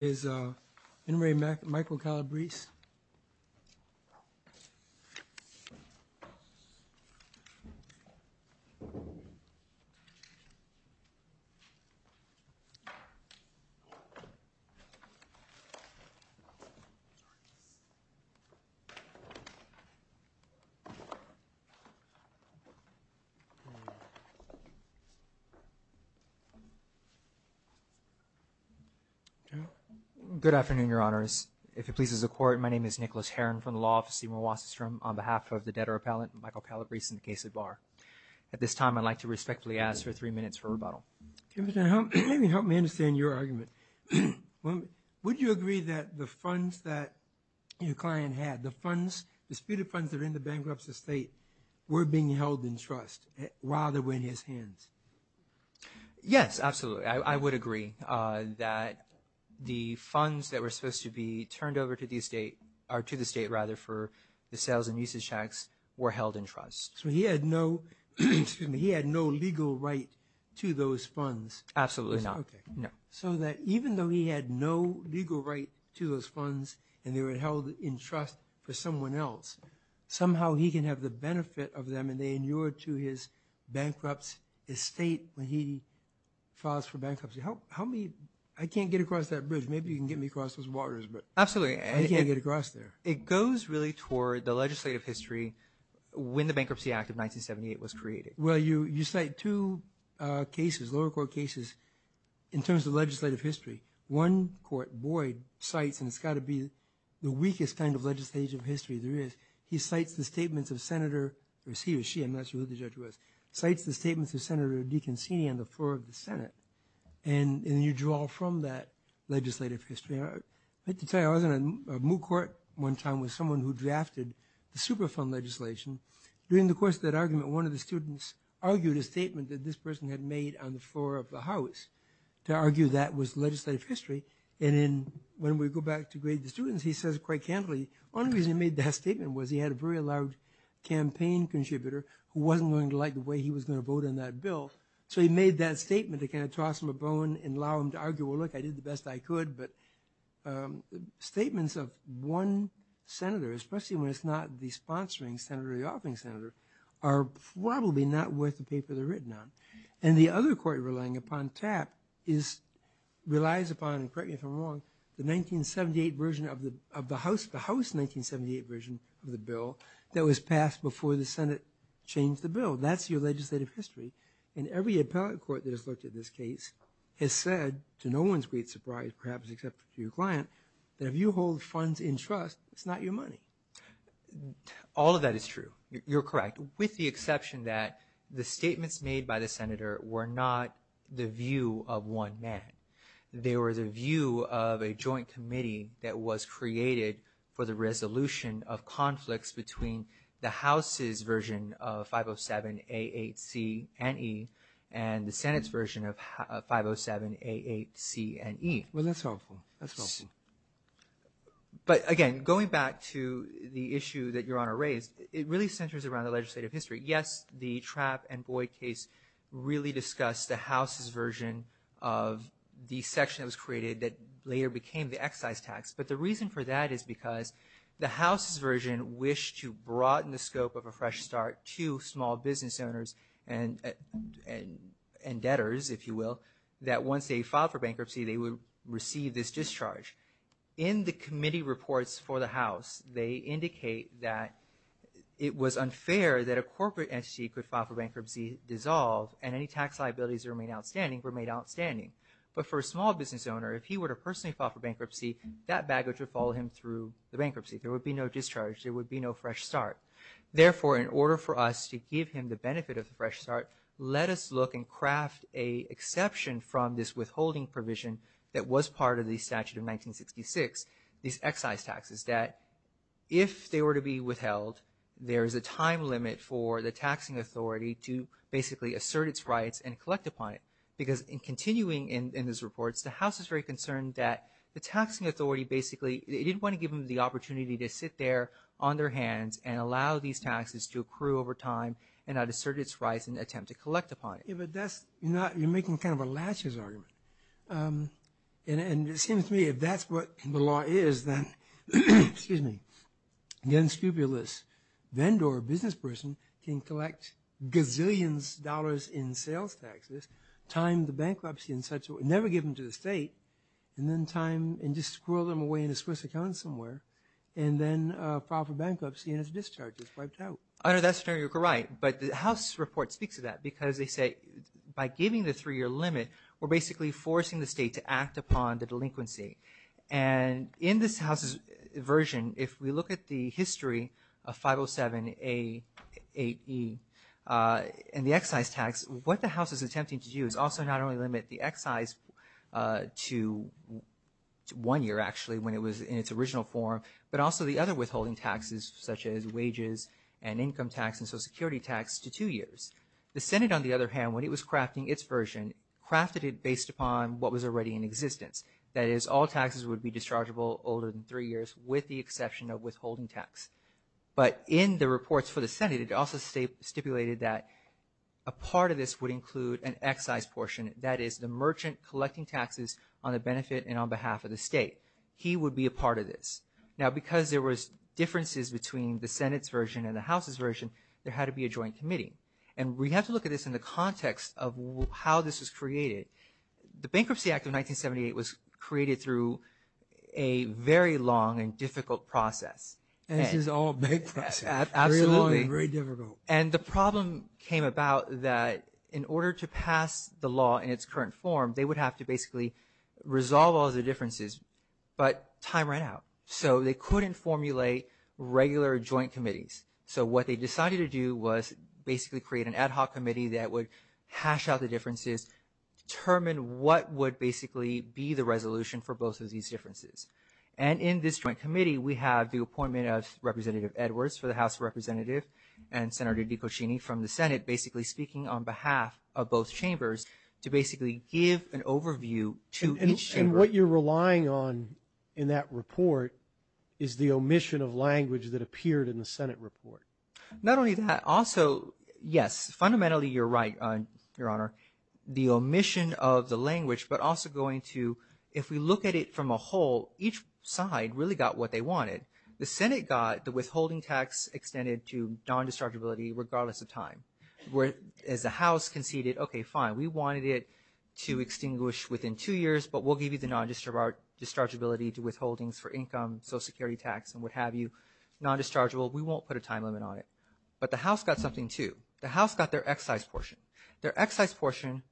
is Henry Michael Calabrese. Good afternoon, Your Honors. If it pleases the Court, my name is Nicholas Herron from the Law Office, Seymour Wasserstrom, on behalf of the debtor appellant, Michael Calabrese, in the case of Barr. At this time, I'd like to respectfully ask for three minutes for rebuttal. Mr. Herron, help me understand your argument. Would you agree that the funds that your client had, the funds, disputed funds that are in the bankrupt's estate, were being held in trust rather than in his hands? Yes, absolutely. I would agree that the funds that were supposed to be turned over to the state, or to the state rather, for the sales and usage tax were held in trust. So he had no legal right to those funds? Absolutely not. Okay. So that even though he had no legal right to those funds and they were held in trust for someone else, somehow he can have the benefit of them and they inured to his bankrupt's estate when he filed for bankruptcy. Help me. I can't get across that bridge. Maybe you can get me across those waters. Absolutely. I can't get across there. It goes really toward the legislative history when the Bankruptcy Act of 1978 was created. Well, you cite two cases, lower court cases, in terms of legislative history. One court, Boyd, cites, and it's got to be the weakest kind of legislative history there is. He cites the statements of Senator, he or she, I'm not sure who the judge was, cites the statements of Senator DeConcini on the floor of the Senate. And you draw from that legislative history. I have to tell you, I was in a moot court one time with someone who drafted the Superfund legislation. During the course of that argument, one of the students argued a statement that this person had made on the floor of the House to argue that was legislative history. And when we go back to grade the students, he says quite candidly, only reason he made that statement was he had a very large campaign contributor who wasn't going to like the way he was going to vote on that bill. So he made that statement to kind of toss him a bone and allow him to argue, well, look, I did the best I could. But statements of one senator, especially when it's not the sponsoring senator or the offering senator, are probably not worth the paper they're written on. And the other court relying upon TAP relies upon, and correct me if I'm wrong, the 1978 version of the House, the House 1978 version of the bill that was passed before the Senate changed the bill. That's your legislative history. And every appellate court that has looked at this case has said, to no one's great surprise, perhaps except to your client, that if you hold funds in trust, it's not your money. All of that is true. You're correct, with the exception that the statements made by the senator were not the view of one man. They were the view of a joint committee that was created for the resolution of conflicts between the House's version of 507A8C&E and the Senate's version of 507A8C&E. Well, that's helpful. That's helpful. But, again, going back to the issue that Your Honor raised, it really centers around the legislative history. Yes, the Trapp and Boyd case really discussed the House's version of the section that was created that later became the excise tax. But the reason for that is because the House's version wished to broaden the scope of a fresh start to small business owners and debtors, if you will, that once they filed for bankruptcy, they would receive this discharge. In the committee reports for the House, they indicate that it was unfair that a corporate entity could file for bankruptcy, dissolve, and any tax liabilities that remain outstanding remain outstanding. But for a small business owner, if he were to personally file for bankruptcy, that baggage would follow him through the bankruptcy. There would be no discharge. There would be no fresh start. Therefore, in order for us to give him the benefit of the fresh start, let us look and craft an exception from this withholding provision that was part of the statute of 1966, these excise taxes, that if they were to be withheld, there is a time limit for the taxing authority to basically assert its rights and collect upon it. Because in continuing in these reports, the House is very concerned that the taxing authority basically didn't want to give them the opportunity to sit there on their hands and allow these taxes to accrue over time and not assert its rights and attempt to collect upon it. Yeah, but that's – you're making kind of a laches argument. And it seems to me if that's what the law is, then – excuse me – again, scrupulous vendor or business person can collect gazillions of dollars in sales taxes, time the bankruptcy in such a way – never give them to the state, and then time and just squirrel them away in a Swiss account somewhere, and then file for bankruptcy and its discharge is wiped out. Under that scenario, you're right, but the House report speaks to that because they say by giving the three-year limit, we're basically forcing the state to act upon the delinquency. And in this House's version, if we look at the history of 507A8E and the excise tax, what the House is attempting to do is also not only limit the excise to one year actually when it was in its original form, but also the other withholding taxes such as wages and income tax and Social Security tax to two years. The Senate, on the other hand, when it was crafting its version, crafted it based upon what was already in existence. That is, all taxes would be dischargeable older than three years with the exception of withholding tax. But in the reports for the Senate, it also stipulated that a part of this would include an excise portion. That is, the merchant collecting taxes on the benefit and on behalf of the state. He would be a part of this. Now, because there was differences between the Senate's version and the House's version, there had to be a joint committee. And we have to look at this in the context of how this was created. The Bankruptcy Act of 1978 was created through a very long and difficult process. This is all bankruptcy. Absolutely. Very long and very difficult. And the problem came about that in order to pass the law in its current form, they would have to basically resolve all the differences, but time ran out. So they couldn't formulate regular joint committees. So what they decided to do was basically create an ad hoc committee that would hash out the differences, determine what would basically be the resolution for both of these differences. And in this joint committee, we have the appointment of Representative Edwards for the House of Representatives and Senator Dicocchini from the Senate basically speaking on behalf of both chambers to basically give an overview to each chamber. And what you're relying on in that report is the omission of language that appeared in the Senate report. Not only that, also, yes, fundamentally you're right, Your Honor, the omission of the language, but also going to if we look at it from a whole, each side really got what they wanted. The Senate got the withholding tax extended to non-destructibility regardless of time. As the House conceded, okay, fine, we wanted it to extinguish within two years, but we'll give you the non-destructibility to withholdings for income, Social Security tax, and what have you. Non-destructible, we won't put a time limit on it. But the House got something, too. The House got their excise portion. Their excise portion,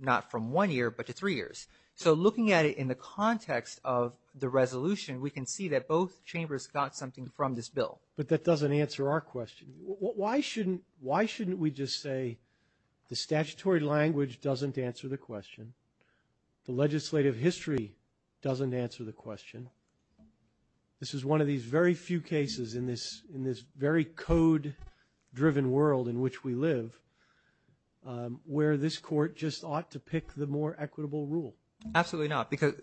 not from one year, but to three years. So looking at it in the context of the resolution, we can see that both chambers got something from this bill. But that doesn't answer our question. Why shouldn't we just say the statutory language doesn't answer the question, the legislative history doesn't answer the question? This is one of these very few cases in this very code-driven world in which we live, where this Court just ought to pick the more equitable rule. Absolutely not, because,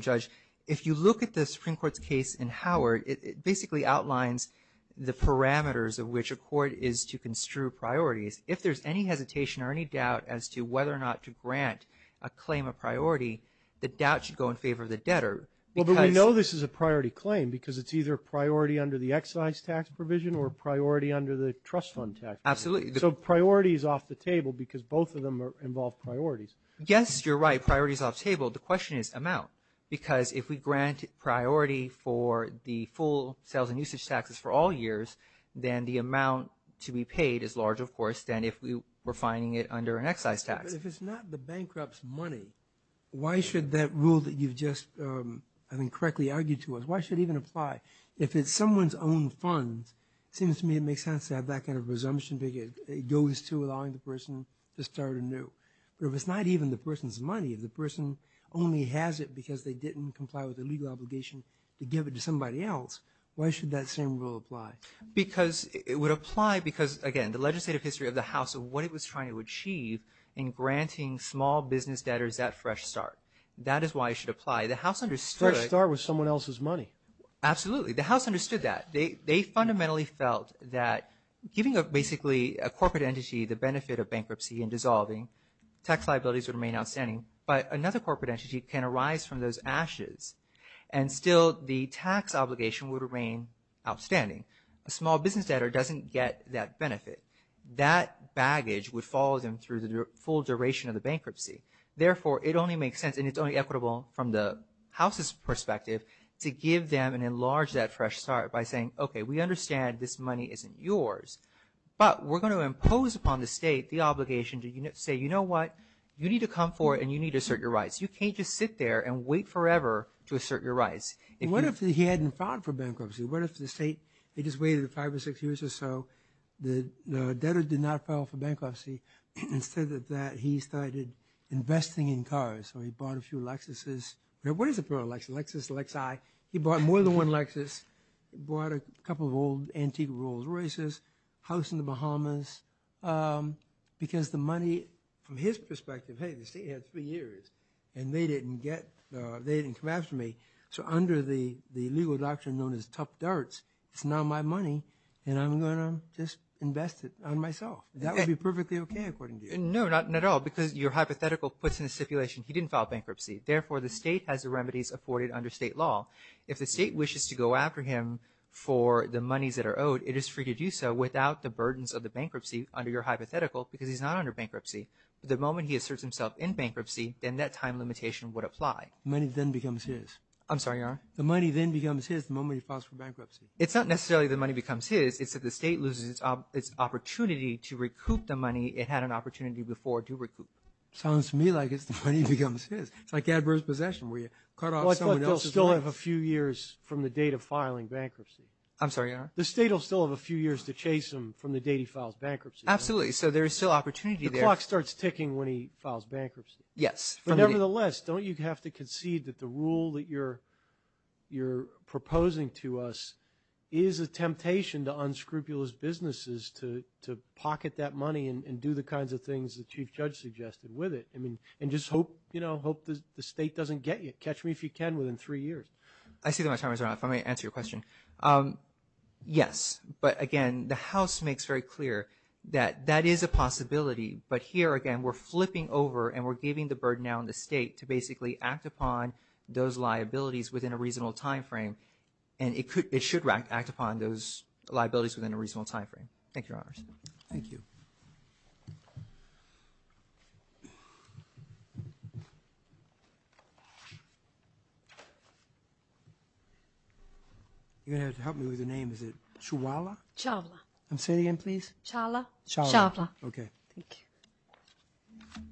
Judge, if you look at the Supreme Court's case in Howard, it basically outlines the parameters of which a court is to construe priorities. If there's any hesitation or any doubt as to whether or not to grant a claim a priority, the doubt should go in favor of the debtor. Well, but we know this is a priority claim because it's either a priority under the excise tax provision or a priority under the trust fund tax provision. Absolutely. So priority is off the table because both of them involve priorities. Yes, you're right. Priority is off the table. The question is amount, because if we grant priority for the full sales and usage taxes for all years, then the amount to be paid is larger, of course, than if we were fining it under an excise tax. But if it's not the bankrupt's money, why should that rule that you've just, I think, correctly argued to us, why should it even apply? If it's someone's own funds, it seems to me it makes sense to have that kind of presumption because it goes to allowing the person to start anew. But if it's not even the person's money, if the person only has it because they didn't comply with the legal obligation to give it to somebody else, why should that same rule apply? Because it would apply because, again, the legislative history of the House of what it was trying to achieve in granting small business debtors that fresh start. That is why it should apply. The House understood it. Fresh start with someone else's money. Absolutely. The House understood that. They fundamentally felt that giving, basically, a corporate entity the benefit of bankruptcy and dissolving, tax liabilities would remain outstanding, but another corporate entity can arise from those ashes and still the tax obligation would remain outstanding. A small business debtor doesn't get that benefit. That baggage would follow them through the full duration of the bankruptcy. Therefore, it only makes sense and it's only equitable from the House's perspective to give them and enlarge that fresh start by saying, okay, we understand this money isn't yours, but we're going to impose upon the state the obligation to say, you know what, you need to come forward and you need to assert your rights. You can't just sit there and wait forever to assert your rights. What if he hadn't filed for bankruptcy? What if the state, they just waited five or six years or so, the debtor did not file for bankruptcy. Instead of that, he started investing in cars, so he bought a few Lexuses. What is it for a Lexus? Lexus, Lexi. He bought more than one Lexus. He bought a couple of old antique Rolls Royces, house in the Bahamas, because the money from his perspective, hey, the state had three years and they didn't get, they didn't come after me, so under the legal doctrine known as tough darts, it's now my money and I'm going to just invest it on myself. That would be perfectly okay according to you. No, not at all, because your hypothetical puts in a stipulation he didn't file bankruptcy. Therefore, the state has the remedies afforded under state law. If the state wishes to go after him for the monies that are owed, it is free to do so without the burdens of the bankruptcy under your hypothetical, because he's not under bankruptcy. The moment he asserts himself in bankruptcy, then that time limitation would apply. Money then becomes his. I'm sorry, Your Honor? The money then becomes his the moment he files for bankruptcy. It's not necessarily the money becomes his. It's that the state loses its opportunity to recoup the money it had an opportunity before to recoup. Sounds to me like it's the money becomes his. It's like adverse possession where you cut off someone else's money. But they'll still have a few years from the date of filing bankruptcy. I'm sorry, Your Honor? The state will still have a few years to chase him from the date he files bankruptcy. Absolutely. So there is still opportunity there. The clock starts ticking when he files bankruptcy. Yes. But nevertheless, don't you have to concede that the rule that you're proposing to us is a temptation to unscrupulous businesses to pocket that money and do the kinds of things the Chief Judge suggested with it and just hope the state doesn't get you? Catch me if you can within three years. I see that my time is up. Let me answer your question. Yes. But again, the House makes very clear that that is a possibility. But here, again, we're flipping over and we're giving the burden now on the state to basically act upon those liabilities within a reasonable time frame. Thank you, Your Honors. Thank you. You're going to have to help me with your name. Is it Chawala? Chawala. Say it again, please. Chawala. Chawala. Okay. Thank you.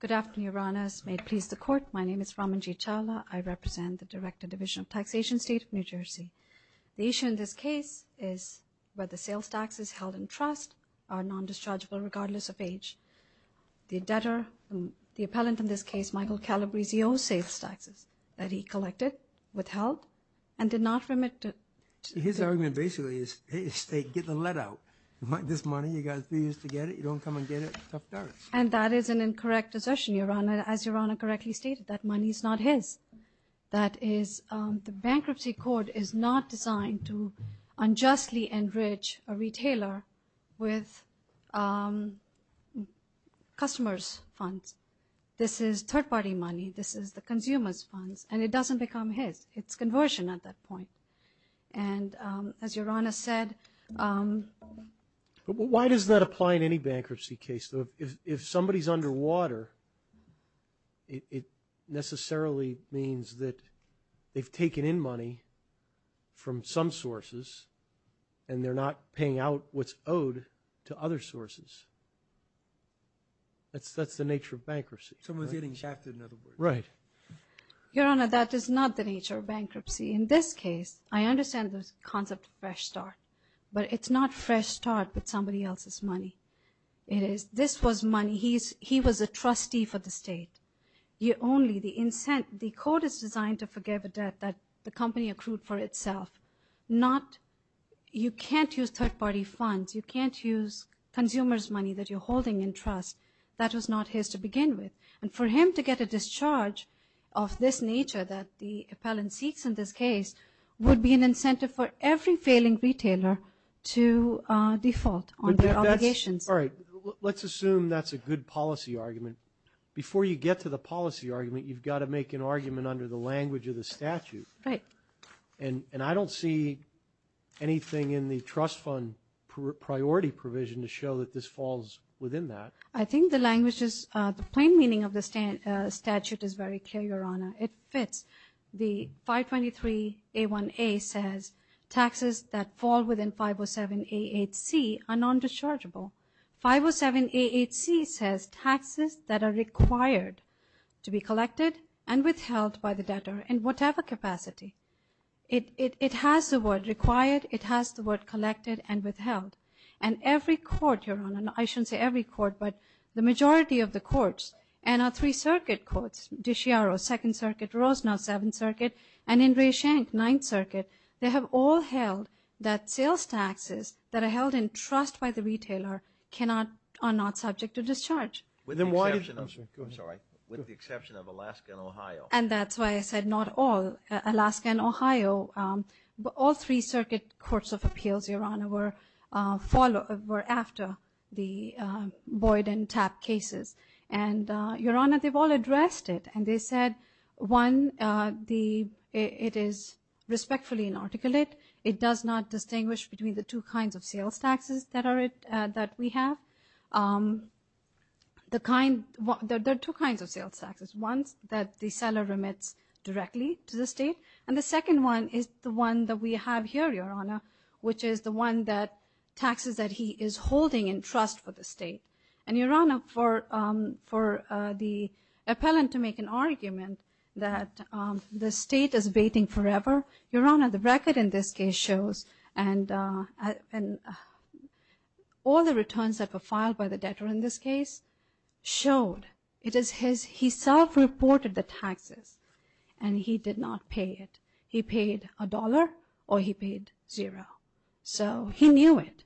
Good afternoon, Your Honors. May it please the Court, my name is Ramanjit Chawala. I represent the Director, Division of Taxation, State of New Jersey. The issue in this case is whether sales taxes held in trust are non-dischargeable regardless of age. The debtor, the appellant in this case, Michael Calabrese, he owes sales taxes that he collected, withheld, and did not remit. His argument basically is, hey, the state, get the lead out. You want this money, you got three years to get it, you don't come and get it, tough dirt. And that is an incorrect assertion, Your Honor, as Your Honor correctly stated, that money is not his. That is, the bankruptcy court is not designed to unjustly enrich a retailer with customers' funds. This is third-party money, this is the consumer's funds, and it doesn't become his. It's conversion at that point. And as Your Honor said – Why does that apply in any bankruptcy case? So if somebody's underwater, it necessarily means that they've taken in money from some sources, and they're not paying out what's owed to other sources. That's the nature of bankruptcy. Someone's getting shafted, in other words. Right. Your Honor, that is not the nature of bankruptcy. In this case, I understand the concept of fresh start, but it's not fresh start with somebody else's money. This was money. He was a trustee for the state. The court is designed to forgive a debt that the company accrued for itself. You can't use third-party funds. You can't use consumers' money that you're holding in trust. That was not his to begin with. And for him to get a discharge of this nature that the appellant seeks in this case would be an incentive for every failing retailer to default on their obligations. All right. Let's assume that's a good policy argument. Before you get to the policy argument, you've got to make an argument under the language of the statute. Right. And I don't see anything in the trust fund priority provision to show that this falls within that. I think the plain meaning of the statute is very clear, Your Honor. It fits. The 523A1A says taxes that fall within 507A8C are non-dischargeable. 507A8C says taxes that are required to be collected and withheld by the debtor in whatever capacity. It has the word required. It has the word collected and withheld. And every court, Your Honor, I shouldn't say every court, but the majority of the courts and our three circuit courts, DiChiaro, Second Circuit, Rosner, Seventh Circuit, and Andre Schenck, Ninth Circuit, they have all held that sales taxes that are held in trust by the retailer are not subject to discharge. With the exception of Alaska and Ohio. And that's why I said not all. were after the Boyd and Tapp cases. And, Your Honor, they've all addressed it. And they said, one, it is respectfully inarticulate. It does not distinguish between the two kinds of sales taxes that we have. There are two kinds of sales taxes. One is that the seller remits directly to the state. And the second one is the one that we have here, Your Honor, which is the one that taxes that he is holding in trust for the state. And, Your Honor, for the appellant to make an argument that the state is waiting forever, Your Honor, the record in this case shows and all the returns that were filed by the debtor in this case showed it is his, he self-reported the taxes and he did not pay it. He paid a dollar or he paid zero. So he knew it.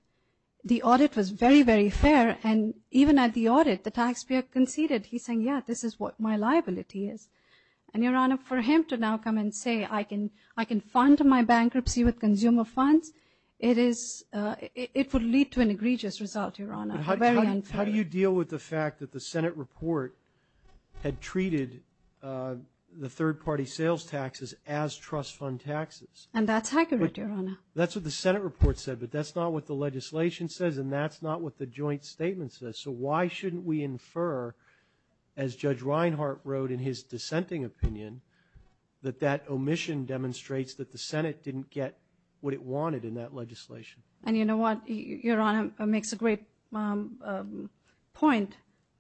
The audit was very, very fair. And even at the audit, the taxpayer conceded. He's saying, yeah, this is what my liability is. And, Your Honor, for him to now come and say I can fund my bankruptcy with consumer funds, it is, it would lead to an egregious result, Your Honor. It's very unfair. How do you deal with the fact that the Senate report had treated the third-party sales taxes as trust fund taxes? And that's accurate, Your Honor. That's what the Senate report said, but that's not what the legislation says and that's not what the joint statement says. So why shouldn't we infer, as Judge Reinhart wrote in his dissenting opinion, that that omission demonstrates that the Senate didn't get what it wanted in that legislation? And you know what? Your Honor makes a great point,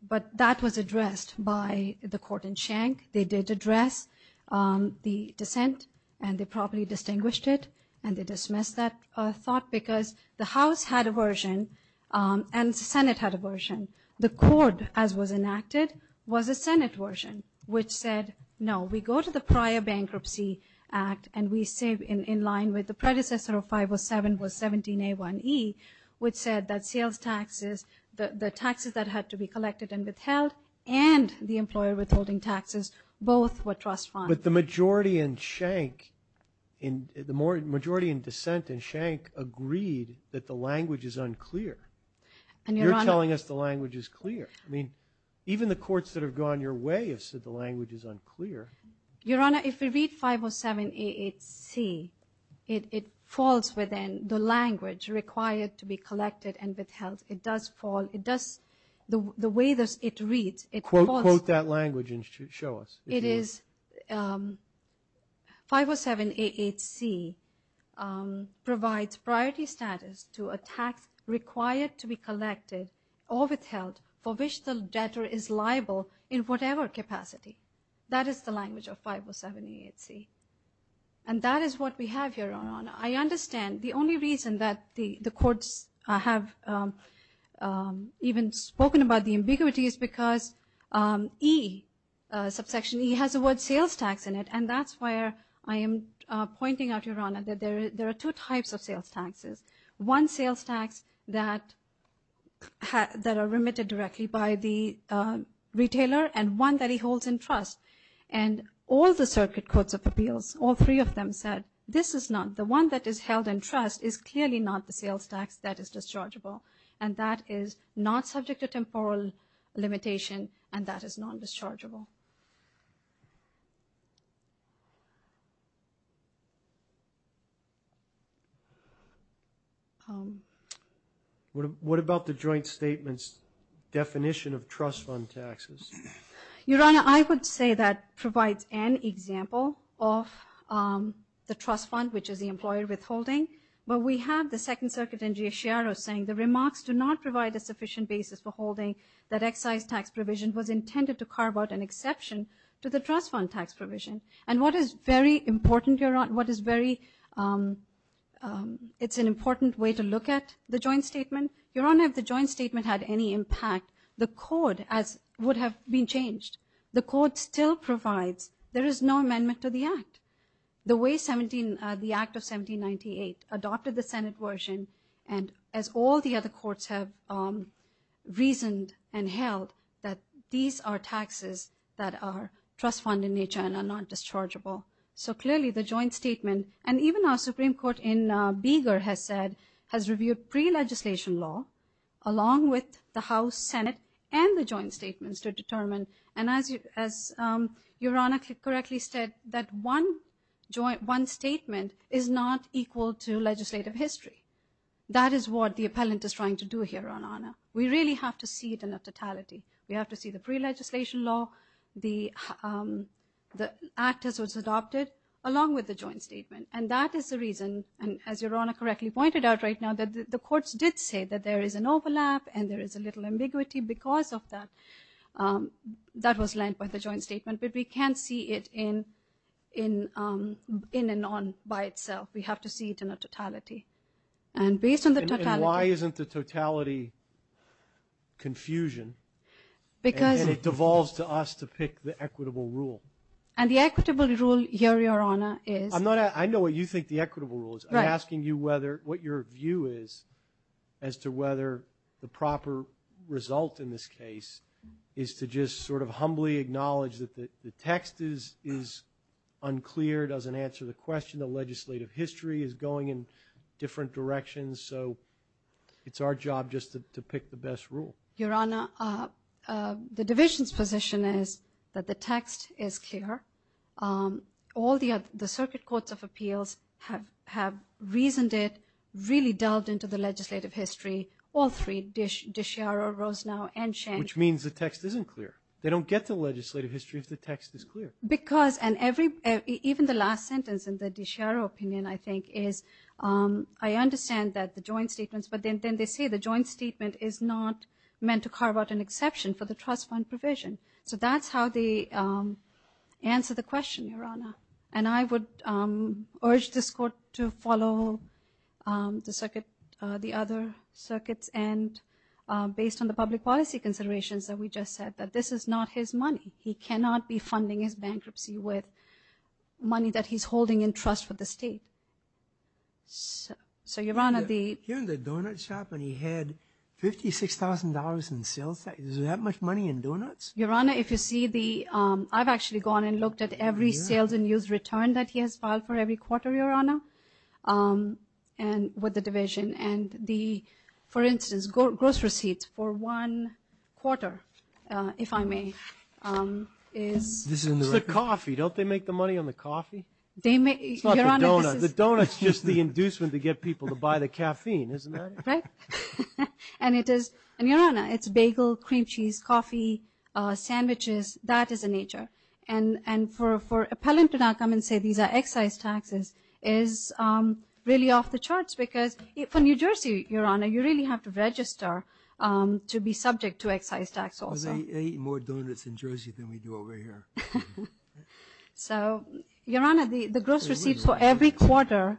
but that was addressed by the court in Schenck. They did address the dissent and they properly distinguished it and they dismissed that thought because the House had a version and the Senate had a version. The court, as was enacted, was a Senate version which said, no, we go to the prior bankruptcy act and we say in line with the predecessor of 507 was 17A1E, which said that sales taxes, the taxes that had to be collected and withheld and the employer withholding taxes both were trust funds. But the majority in Schenck, the majority in dissent in Schenck agreed that the language is unclear. You're telling us the language is clear. I mean, even the courts that have gone your way have said the language is unclear. Your Honor, if we read 507A8C, it falls within the language required to be collected and withheld. It does fall. It does. The way it reads, it falls. Quote that language and show us. It is 507A8C provides priority status to a tax required to be collected or withheld for which the debtor is liable in whatever capacity. That is the language of 507A8C. And that is what we have, Your Honor. I understand. The only reason that the courts have even spoken about the ambiguity is because E, subsection E, has the word sales tax in it, and that's where I am pointing out, Your Honor, that there are two types of sales taxes. One sales tax that are remitted directly by the retailer and one that he holds in trust. And all the circuit courts of appeals, all three of them, said this is not, the one that is held in trust is clearly not the sales tax that is dischargeable, and that is not subject to temporal limitation and that is non-dischargeable. What about the joint statement's definition of trust fund taxes? Your Honor, I would say that provides an example of the trust fund, which is the employer withholding. But we have the Second Circuit in G.S. Sciaro saying the remarks do not provide a sufficient basis for holding that excise tax provision was intended to carve out an exception to the trust fund tax provision. And what is very important, Your Honor, what is very, it's an important way to look at the joint statement. Your Honor, if the joint statement had any impact, the code would have been changed. The court still provides. There is no amendment to the act. The way the Act of 1798 adopted the Senate version, and as all the other courts have reasoned and held, that these are taxes that are trust fund in nature and are not dischargeable. So clearly the joint statement, and even our Supreme Court in Beagar has said, has reviewed pre-legislation law along with the House, Senate, and the joint statements to determine, and as Your Honor correctly said, that one statement is not equal to legislative history. That is what the appellant is trying to do here, Your Honor. We really have to see it in a totality. We have to see the pre-legislation law, the act as it was adopted, along with the joint statement. And that is the reason, as Your Honor correctly pointed out right now, that the courts did say that there is an overlap and there is a little ambiguity because of that. That was lent by the joint statement, but we can't see it in and on by itself. We have to see it in a totality. And based on the totality – And why isn't the totality confusion? Because – And it devolves to us to pick the equitable rule. And the equitable rule here, Your Honor, is – I know what you think the equitable rule is. Right. I'm asking you whether – what your view is as to whether the proper result in this case is to just sort of humbly acknowledge that the text is unclear, doesn't answer the question, the legislative history is going in different directions. So it's our job just to pick the best rule. Your Honor, the division's position is that the text is clear. All the circuit courts of appeals have reasoned it, really delved into the legislative history, all three, DiCiaro, Rosenow, and Schenkel. Which means the text isn't clear. They don't get to legislative history if the text is clear. Because – and even the last sentence in the DiCiaro opinion, I think, is I understand that the joint statements – but then they say the joint statement is not meant to carve out an exception for the trust fund provision. So that's how they answer the question, Your Honor. And I would urge this court to follow the circuit – the other circuits, and based on the public policy considerations that we just said, that this is not his money. He cannot be funding his bankruptcy with money that he's holding in trust with the state. So, Your Honor, the – Here in the donut shop when he had $56,000 in sales tax, is there that much money in donuts? Your Honor, if you see the – I've actually gone and looked at every sales and use return that he has filed for every quarter, Your Honor, with the division. And the, for instance, gross receipts for one quarter, if I may, is – This is in the record. It's the coffee. Don't they make the money on the coffee? They make – It's not the donut. The donut's just the inducement to get people to buy the caffeine, isn't that it? Right. And it is – and, Your Honor, it's bagel, cream cheese, coffee, sandwiches. That is the nature. And for appellant to not come and say these are excise taxes is really off the charts, because for New Jersey, Your Honor, you really have to register to be subject to excise tax also. They eat more donuts in Jersey than we do over here. So, Your Honor, the gross receipts for every quarter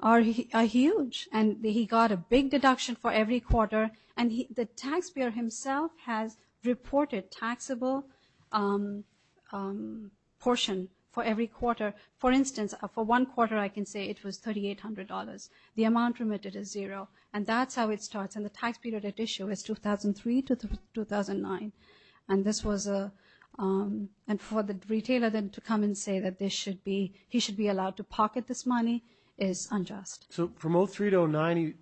are huge. And he got a big deduction for every quarter. And the taxpayer himself has reported taxable portion for every quarter. For instance, for one quarter, I can say it was $3,800. The amount remitted is zero. And that's how it starts. And the tax period at issue is 2003 to 2009. And this was a – and for the retailer then to come and say that this should be – he should be allowed to pocket this money is unjust. So from 2003 to 2009,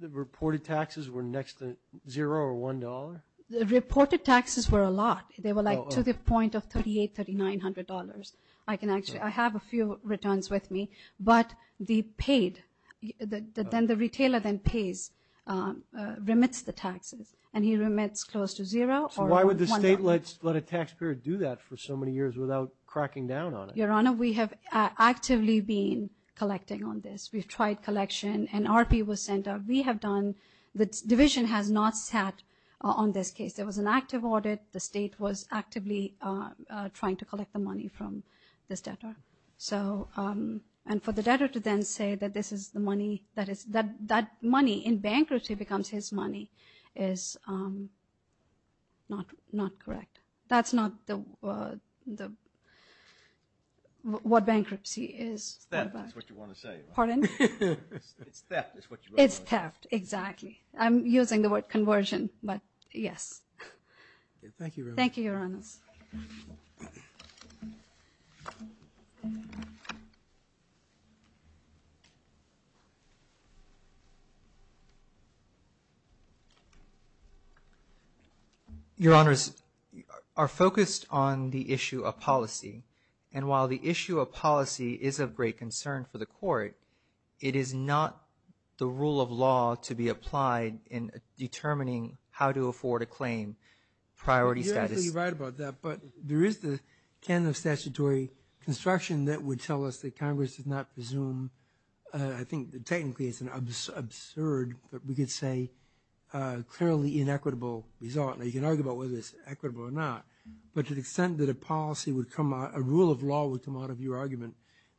the reported taxes were next to zero or $1? The reported taxes were a lot. They were like to the point of $3,800, $3,900. I can actually – I have a few returns with me. But the paid – then the retailer then pays, remits the taxes. And he remits close to zero or $1. So why would the state let a taxpayer do that for so many years without cracking down on it? Your Honor, we have actively been collecting on this. We've tried collection. An R.P. was sent out. We have done – the division has not sat on this case. There was an active audit. The state was actively trying to collect the money from this debtor. So – and for the debtor to then say that this is the money that is – that money in bankruptcy becomes his money is not correct. That's not the – what bankruptcy is. It's theft is what you want to say. Pardon? It's theft is what you want to say. It's theft, exactly. I'm using the word conversion, but yes. Thank you, Your Honor. Thank you, Your Honors. Your Honors, our focus on the issue of policy. And while the issue of policy is of great concern for the court, it is not the rule of law to be applied in determining how to afford a claim. Priority status. You're absolutely right about that. But there is the canon of statutory construction that would tell us that Congress did not presume – I think technically it's an absurd, but we could say clearly inequitable result. Now, you can argue about whether it's equitable or not. But to the extent that a policy would come out – a rule of law would come out of your argument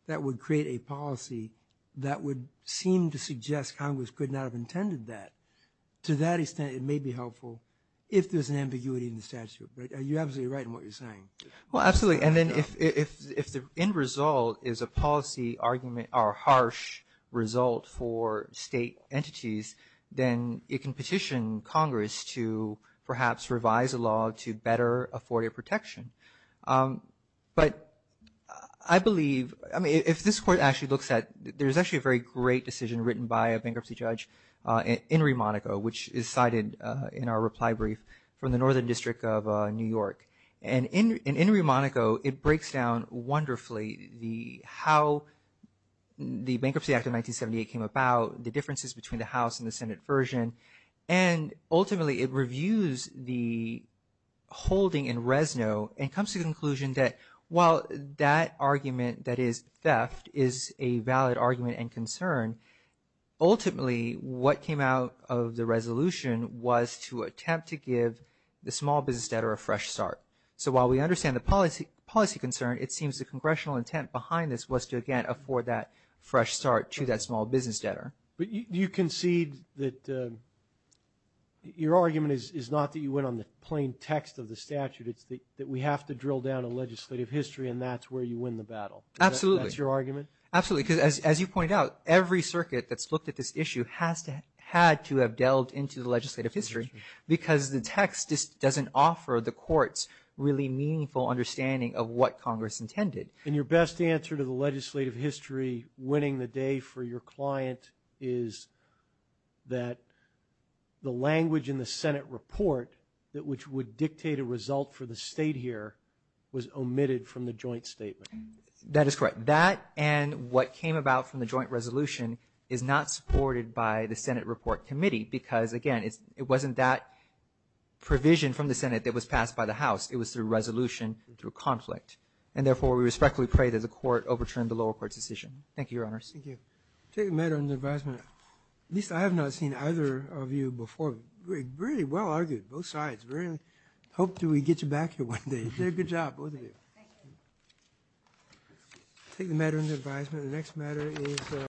that would create a policy that would seem to suggest Congress could not have intended that, to that extent it may be helpful if there's an ambiguity in the statute. But you're absolutely right in what you're saying. Well, absolutely. And then if the end result is a policy argument or harsh result for state entities, then it can petition Congress to perhaps revise a law to better afford a protection. But I believe – I mean, if this court actually looks at – there's actually a very great decision written by a bankruptcy judge in Rimonaco, which is cited in our reply brief from the Northern District of New York. And in Rimonaco, it breaks down wonderfully how the Bankruptcy Act of 1978 came about, the differences between the House and the Senate version, and ultimately it reviews the holding in Rezno and comes to the conclusion that while that argument that is theft is a valid argument and concern, ultimately what came out of the resolution was to attempt to give the small business debtor a fresh start. So while we understand the policy concern, to that small business debtor. But you concede that your argument is not that you went on the plain text of the statute. It's that we have to drill down a legislative history, and that's where you win the battle. Absolutely. Is that your argument? Absolutely, because as you pointed out, every circuit that's looked at this issue has had to have delved into the legislative history because the text just doesn't offer the courts really meaningful understanding of what Congress intended. And your best answer to the legislative history winning the day for your client is that the language in the Senate report which would dictate a result for the state here was omitted from the joint statement. That is correct. That and what came about from the joint resolution is not supported by the Senate report committee because, again, it wasn't that provision from the Senate that was passed by the House. It was through resolution through conflict. And, therefore, we respectfully pray that the Court overturn the lower court's decision. Thank you, Your Honors. Thank you. I'll take a matter under advisement. At least I have not seen either of you before. Really well argued, both sides. I hope to get you back here one day. You did a good job, both of you. Thank you. I'll take the matter under advisement. The next matter is…